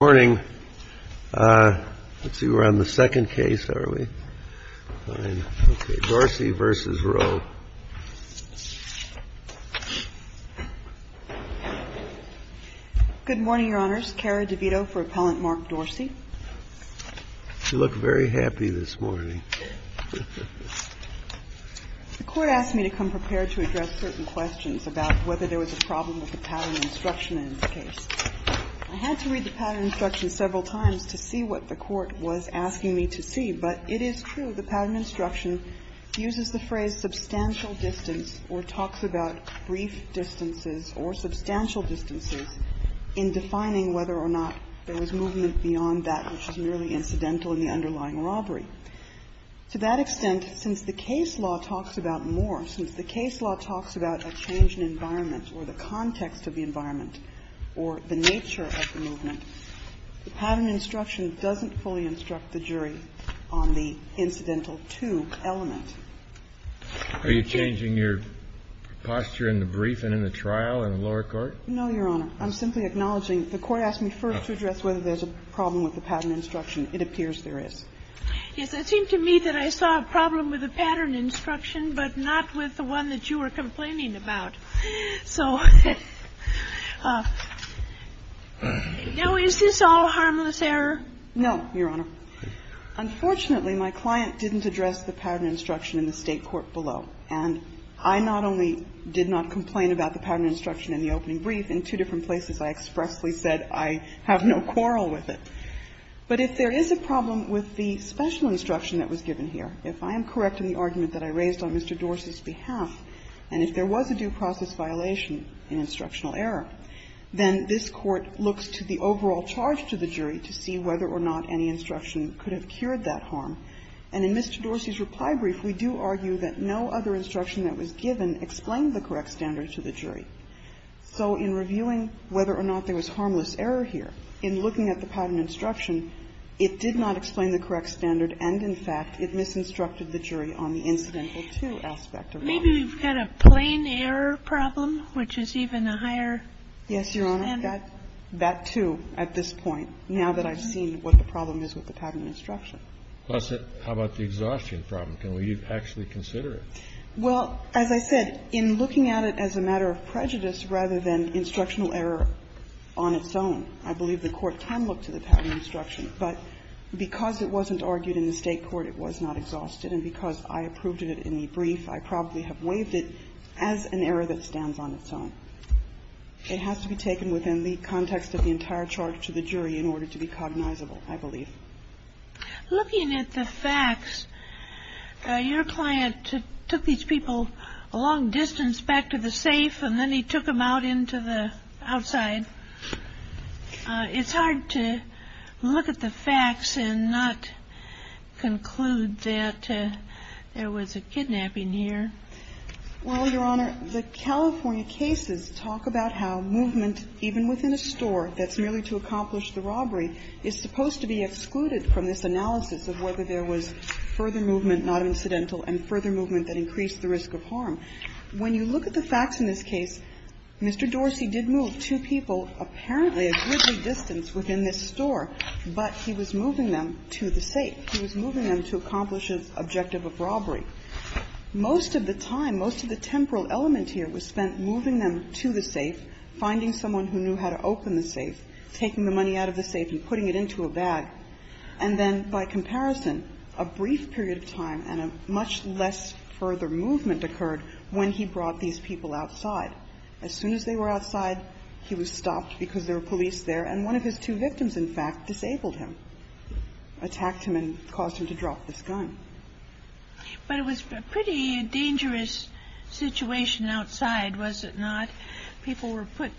Good morning, Your Honors, Kara DeVito for Appellant Mark Dorsey. You look very happy this morning. The Court asked me to come prepared to address certain questions about whether there was a problem with the pattern instruction in this case. I had to read the pattern instruction several times to see what the Court was asking me to see, but it is true the pattern instruction uses the phrase substantial distance or talks about brief distances or substantial distances in defining whether or not there was movement beyond that which is merely incidental in the underlying robbery. To that extent, since the case law talks about more, since the case law talks about a change in environment or the context of the environment or the nature of the movement, the pattern instruction doesn't fully instruct the jury on the incidental to element. Are you changing your posture in the brief and in the trial in the lower court? No, Your Honor. I'm simply acknowledging the Court asked me first to address whether there's a problem with the pattern instruction. It appears there is. Yes. It seemed to me that I saw a problem with the pattern instruction, but not with the one that you were complaining about. So now, is this all harmless error? No, Your Honor. Unfortunately, my client didn't address the pattern instruction in the State court below, and I not only did not complain about the pattern instruction in the opening brief, in two different places I expressly said I have no quarrel with it. But if there is a problem with the special instruction that was given here, if I am correct in the argument that I raised on Mr. Dorsey's behalf, and if there was a due process violation in instructional error, then this Court looks to the overall charge to the jury to see whether or not any instruction could have cured that harm. And in Mr. Dorsey's reply brief, we do argue that no other instruction that was given explained the correct standard to the jury. So in reviewing whether or not there was harmless error here, in looking at the pattern instruction, it did not explain the correct standard and, in fact, it misinstructed the jury on the incidental-to aspect of the problem. Maybe we've got a plain error problem, which is even a higher standard. Yes, Your Honor, that, too, at this point, now that I've seen what the problem is with the pattern instruction. Well, so how about the exhaustion problem? Can we actually consider it? Well, as I said, in looking at it as a matter of prejudice rather than instructional error on its own, I believe the Court can look to the pattern instruction. But because it wasn't argued in the State court, it was not exhausted. And because I approved of it in the brief, I probably have waived it as an error that stands on its own. It has to be taken within the context of the entire charge to the jury in order to be cognizable, I believe. Looking at the facts, your client took these people a long distance back to the safe and then he took them out into the outside. It's hard to look at the facts and not conclude that there was a kidnapping here. Well, Your Honor, the California cases talk about how movement, even within a store that's merely to accomplish the robbery, is supposed to be excluded from this analysis of whether there was further movement, not incidental, and further movement that increased the risk of harm. When you look at the facts in this case, Mr. Dorsey did move two people, apparently a goodly distance, within this store, but he was moving them to the safe. He was moving them to accomplish his objective of robbery. Most of the time, most of the temporal element here was spent moving them to the safe, finding someone who knew how to open the safe, taking the money out of the safe and putting it into a bag, and then, by comparison, a brief period of time and a much less further movement occurred when he brought these people outside. As soon as they were outside, he was stopped because there were police there, and one of his two victims, in fact, disabled him, attacked him and caused him to drop this gun. But it was a pretty dangerous situation outside, was it not? People were put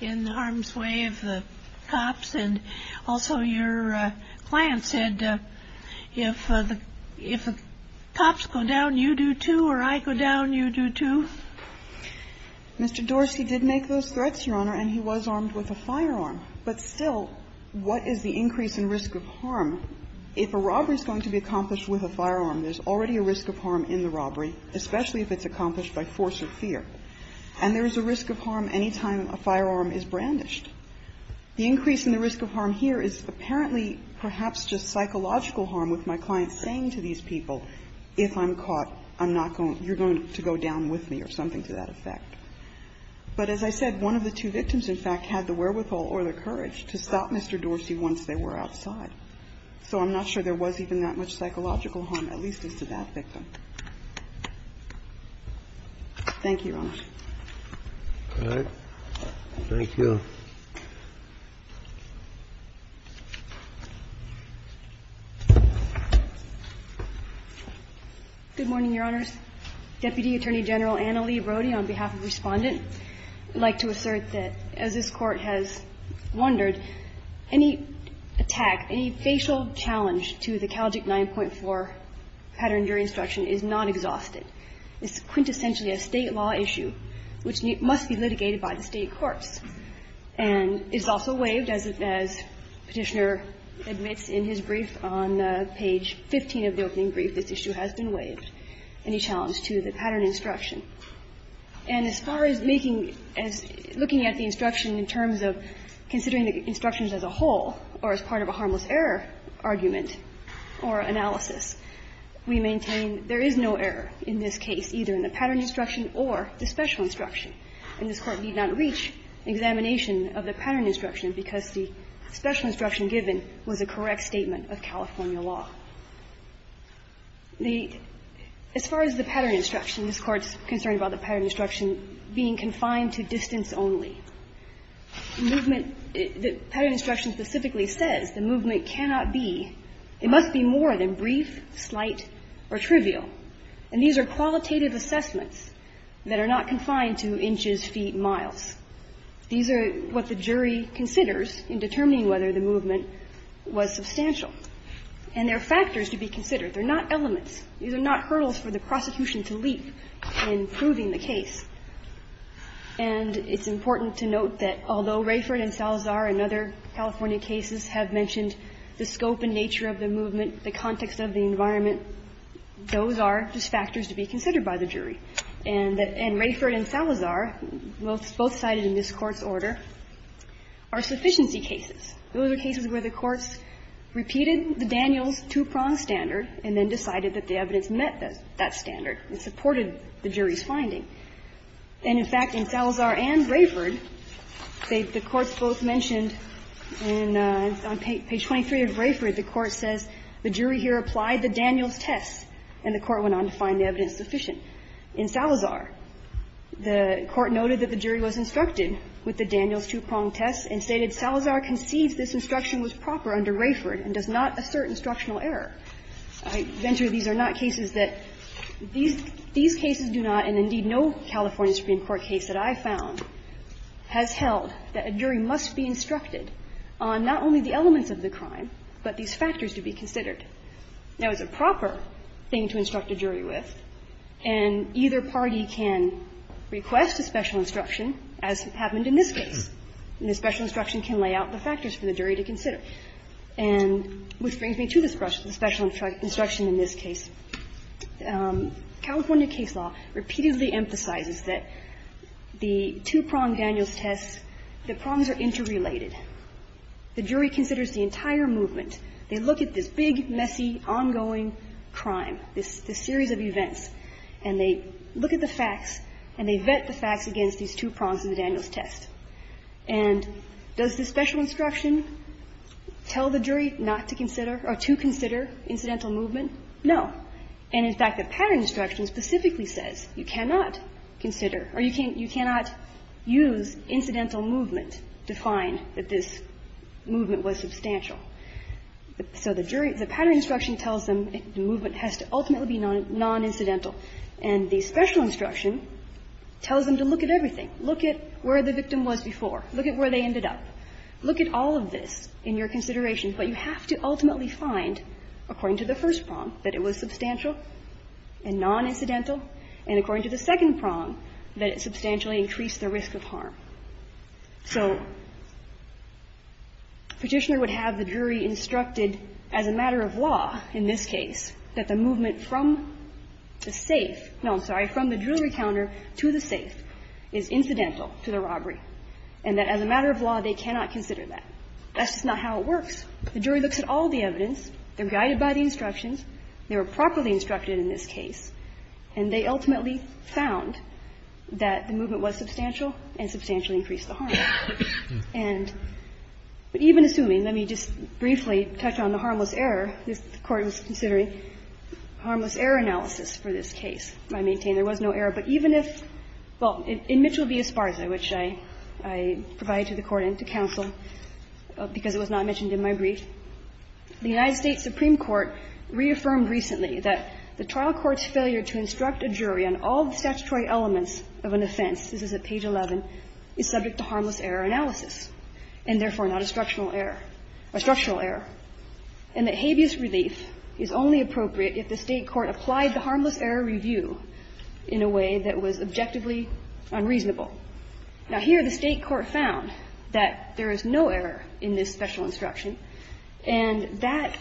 in harm's way of the cops. And also, your client said, if the cops go down, you do too, or I go down, you do too. Mr. Dorsey did make those threats, Your Honor, and he was armed with a firearm. But still, what is the increase in risk of harm if a robbery is going to be accomplished with a firearm? There's already a risk of harm in the robbery, especially if it's accomplished by force of fear. And there is a risk of harm any time a firearm is brandished. The increase in the risk of harm here is apparently perhaps just psychological harm with my client saying to these people, if I'm caught, I'm not going to go down with me, or something to that effect. But as I said, one of the two victims, in fact, had the wherewithal or the courage to stop Mr. Dorsey once they were outside. So I'm not sure there was even that much psychological harm, at least as to that victim. Thank you, Your Honor. All right. Thank you. Good morning, Your Honors. Deputy Attorney General Anna Lee Brody, on behalf of the Respondent, I'd like to assert that as this Court has wondered, any attack, any facial challenge to the Calgic 9.4 pattern during instruction is not exhausted. It's quintessentially a State law issue, which must be litigated by the State courts. And it's also waived, as Petitioner admits in his brief on page 15 of the opening brief, this issue has been waived, any challenge to the pattern instruction. And as far as making, as looking at the instruction in terms of considering the instructions as a whole or as part of a harmless error argument or analysis, we maintain there is no error in this case, either in the pattern instruction or the special instruction. And this Court need not reach examination of the pattern instruction because the special instruction given was a correct statement of California law. The as far as the pattern instruction, this Court's concerned about the pattern instruction being confined to distance only. Movement, the pattern instruction specifically says the movement cannot be, it must be more than brief, slight, or trivial. And these are qualitative assessments that are not confined to inches, feet, miles. These are what the jury considers in determining whether the movement was substantial. And there are factors to be considered. They're not elements. These are not hurdles for the prosecution to leap in proving the case. And it's important to note that although Rayford and Salazar and other California cases have mentioned the scope and nature of the movement, the context of the environment, those are just factors to be considered by the jury. And that Rayford and Salazar, both cited in this Court's order, are sufficiency cases. Those are cases where the courts repeated the Daniels two-prong standard and then decided that the evidence met that standard and supported the jury's finding. And, in fact, in Salazar and Rayford, the courts both mentioned on page 23 of Rayford, the Court says the jury here applied the Daniels test, and the Court went on to find the evidence sufficient. In Salazar, the Court noted that the jury was instructed with the Daniels two-prong test and stated, Salazar conceives this instruction was proper under Rayford and does not assert instructional error. I venture these are not cases that these cases do not, and indeed no California Supreme Court case that I found, has held that a jury must be instructed on not only the elements of the crime, but these factors to be considered. Now, it's a proper thing to instruct a jury with, and either party can request a special instruction, as happened in this case, and the special instruction can lay out the factors for the jury to consider. And which brings me to this question, the special instruction in this case. California case law repeatedly emphasizes that the two-prong Daniels test, the prongs are interrelated. The jury considers the entire movement. They look at this big, messy, ongoing crime, this series of events, and they look at the facts and they vet the facts against these two prongs in the Daniels test. And does the special instruction tell the jury not to consider or to consider incidental movement? No. And in fact, the pattern instruction specifically says you cannot consider or you cannot use incidental movement to find that this movement was substantial. So the jury, the pattern instruction tells them the movement has to ultimately be non-incidental. And the special instruction tells them to look at everything, look at where the victim was before, look at where they ended up, look at all of this in your consideration, but you have to ultimately find, according to the first prong, that it was substantial and non-incidental, and according to the second prong, that it substantially increased the risk of harm. So Petitioner would have the jury instructed as a matter of law in this case that the movement from the safe no, I'm sorry, from the jewelry counter to the safe is incidental to the robbery, and that as a matter of law, they cannot consider that. That's just not how it works. The jury looks at all the evidence. They're guided by the instructions. They were properly instructed in this case. And they ultimately found that the movement was substantial and substantially increased the harm. And even assuming, let me just briefly touch on the harmless error, this Court was considering harmless error analysis for this case. I maintain there was no error, but even if, well, in Mitchell v. Esparza, which I provide to the Court and to counsel, because it was not mentioned in my brief, the United States Supreme Court reaffirmed recently that the trial court's failure to instruct a jury on all the statutory elements of an offense, this is at page 11, is subject to harmless error analysis, and therefore not a structural error, a structural error, and that habeas relief is only appropriate if the State court applied the harmless error review in a way that was objectively unreasonable. Now, here the State court found that there is no error in this special instruction, and that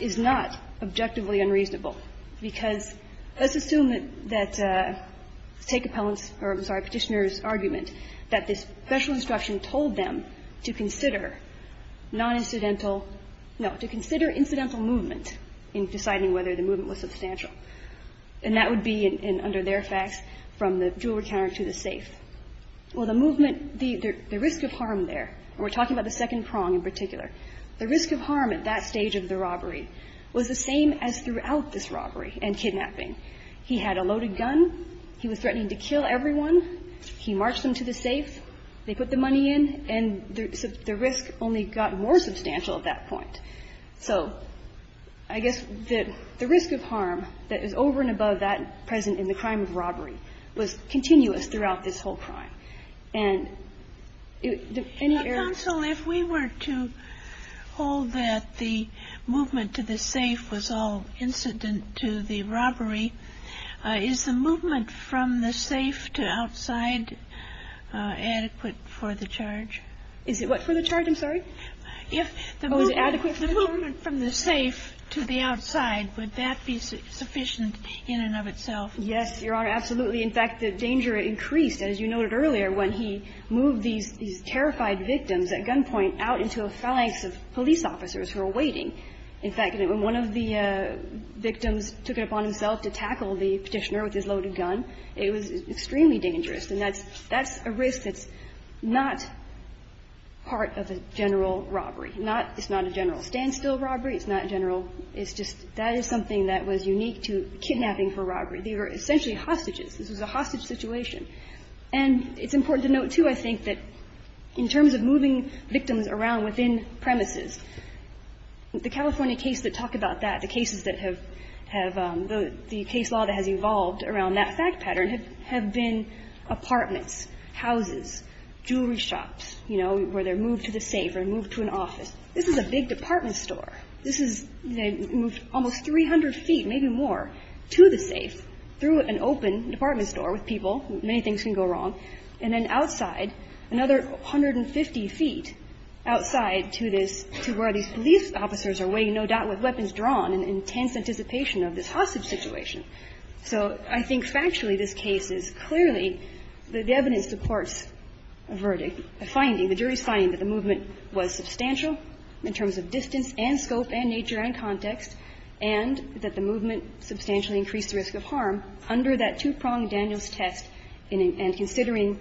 is not objectively unreasonable, because let's assume that State compellants or, I'm sorry, Petitioner's argument that this special instruction told them to consider non-incidental no, to consider incidental movement in deciding whether the movement was substantial. And that would be, under their facts, from the dual recounter to the safe. Well, the movement, the risk of harm there, and we're talking about the second prong in particular, the risk of harm at that stage of the robbery was the same as throughout this robbery and kidnapping. He had a loaded gun. He was threatening to kill everyone. He marched them to the safe. They put the money in, and the risk only got more substantial at that point. So I guess that the risk of harm that is over and above that present in the crime of robbery was continuous throughout this whole crime. And any error of the rule of law in this particular case, I think, would be an error of the rule of law in this particular case. And I think that's the reason why the State court found that there is no error in this particular case. The movement from the safe to the outside, would that be sufficient in and of itself? Yes, Your Honor, absolutely. In fact, the danger increased, as you noted earlier, when he moved these terrified victims at gunpoint out into a flanks of police officers who were waiting. In fact, when one of the victims took it upon himself to tackle the Petitioner with his loaded gun, it was extremely dangerous. And that's a risk that's not part of a general robbery. It's not a general standstill robbery. It's not a general – it's just that is something that was unique to kidnapping for robbery. They were essentially hostages. This was a hostage situation. And it's important to note, too, I think, that in terms of moving victims around within premises, the California case that talked about that, the cases that have – the case law that has evolved around that fact pattern have been apartments, houses, jewelry shops, you know, where they're moved to the safe or moved to an office. This is a big department store. This is – they moved almost 300 feet, maybe more, to the safe through an open department store with people. Many things can go wrong. And then outside, another 150 feet outside to this – to where these police officers are waiting, no doubt, with weapons drawn in intense anticipation of this hostage situation. So I think factually this case is clearly – the evidence supports a verdict, a finding, the jury's finding that the movement was substantial in terms of distance and scope and nature and context, and that the movement substantially increased the risk of harm under that two-pronged Daniels test and considering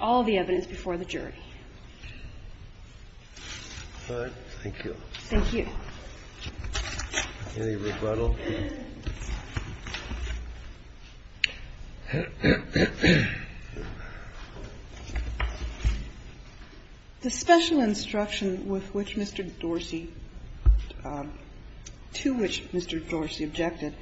all the evidence before the jury. All right. Thank you. Thank you. Any rebuttal? The special instruction with which Mr. Dorsey – to which Mr. Dorsey objected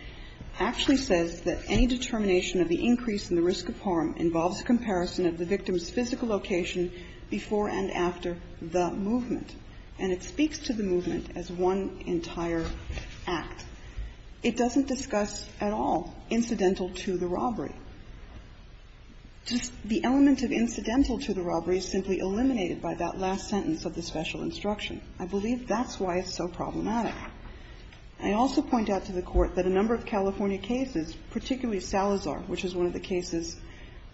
actually says that any determination of the increase in the risk of harm involves a comparison of the victim's physical location before and after the movement. And it speaks to the movement as one entire act. It doesn't discuss at all incidental to the robbery. The element of incidental to the robbery is simply eliminated by that last sentence of the special instruction. I believe that's why it's so problematic. I also point out to the Court that a number of California cases, particularly Salazar, which is one of the cases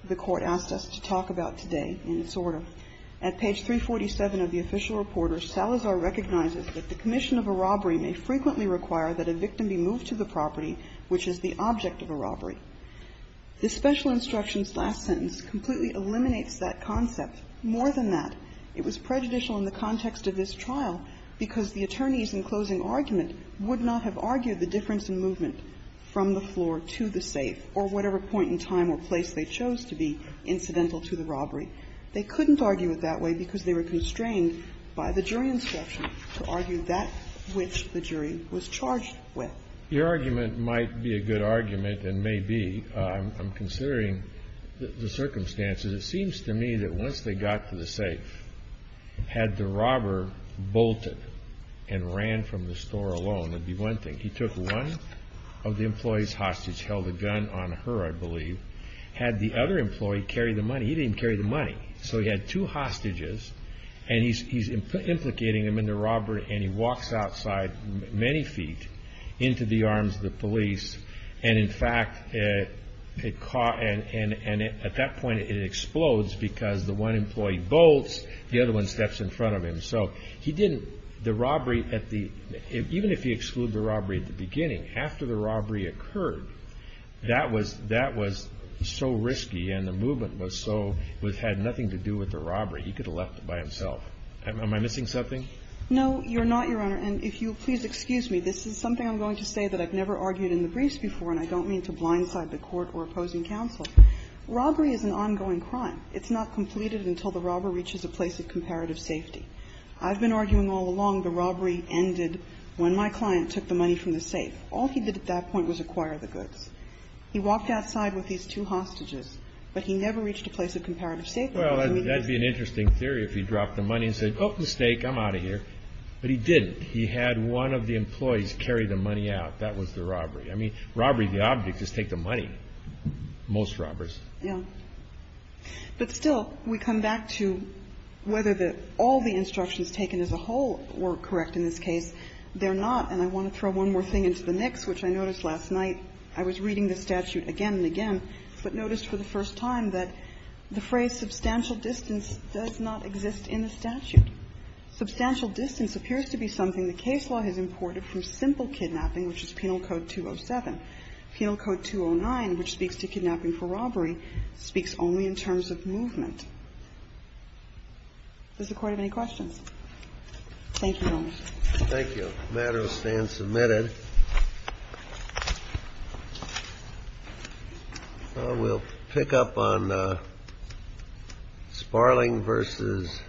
the Court asked us to talk about today in its order, at page 347 of the official report, Salazar recognizes that the commission of a robbery may frequently require that a victim be moved to the property which is the object of a robbery. The special instruction's last sentence completely eliminates that concept. More than that, it was prejudicial in the context of this trial because the attorneys in closing argument would not have argued the difference in movement from the floor to the safe or whatever point in time or place they chose to be incidental to the robbery. They couldn't argue it that way because they were constrained by the jury instruction to argue that which the jury was charged with. Your argument might be a good argument and may be. I'm considering the circumstances. It seems to me that once they got to the safe, had the robber bolted and ran from the store alone, that'd be one thing. He took one of the employees hostage, held a gun on her, I believe. Had the other employee carried the money, he didn't carry the money. So he had two hostages and he's implicating them in the robbery and he walks outside many feet into the arms of the police. And in fact, it caught and at that point it explodes because the one employee bolts, the other one steps in front of him. So he didn't, the robbery at the, even if he excluded the robbery at the beginning, after the robbery occurred, that was so risky and the movement was so, had nothing to do with the robbery, he could have left it by himself. Am I missing something? No, you're not, Your Honor. And if you'll please excuse me, this is something I'm going to say that I've never argued in the briefs before and I don't mean to blindside the Court or opposing counsel. Robbery is an ongoing crime. It's not completed until the robber reaches a place of comparative safety. I've been arguing all along the robbery ended when my client took the money from the safe. All he did at that point was acquire the goods. He walked outside with these two hostages, but he never reached a place of comparative safety. Well, that would be an interesting theory if he dropped the money and said, oh, mistake, I'm out of here. But he didn't. He had one of the employees carry the money out. That was the robbery. I mean, robbery, the object, is take the money, most robbers. Yeah. But still, we come back to whether all the instructions taken as a whole were correct in this case. They're not, and I want to throw one more thing into the mix, which I noticed last night. I was reading the statute again and again, but noticed for the first time that the phrase substantial distance does not exist in the statute. Substantial distance appears to be something the case law has imported from simple kidnapping, which is Penal Code 207. Penal Code 209, which speaks to kidnapping for robbery, speaks only in terms of movement. Does the Court have any questions? Thank you, Your Honor. Thank you. The matter will stand submitted. We'll pick up on Sparling versus Da'u.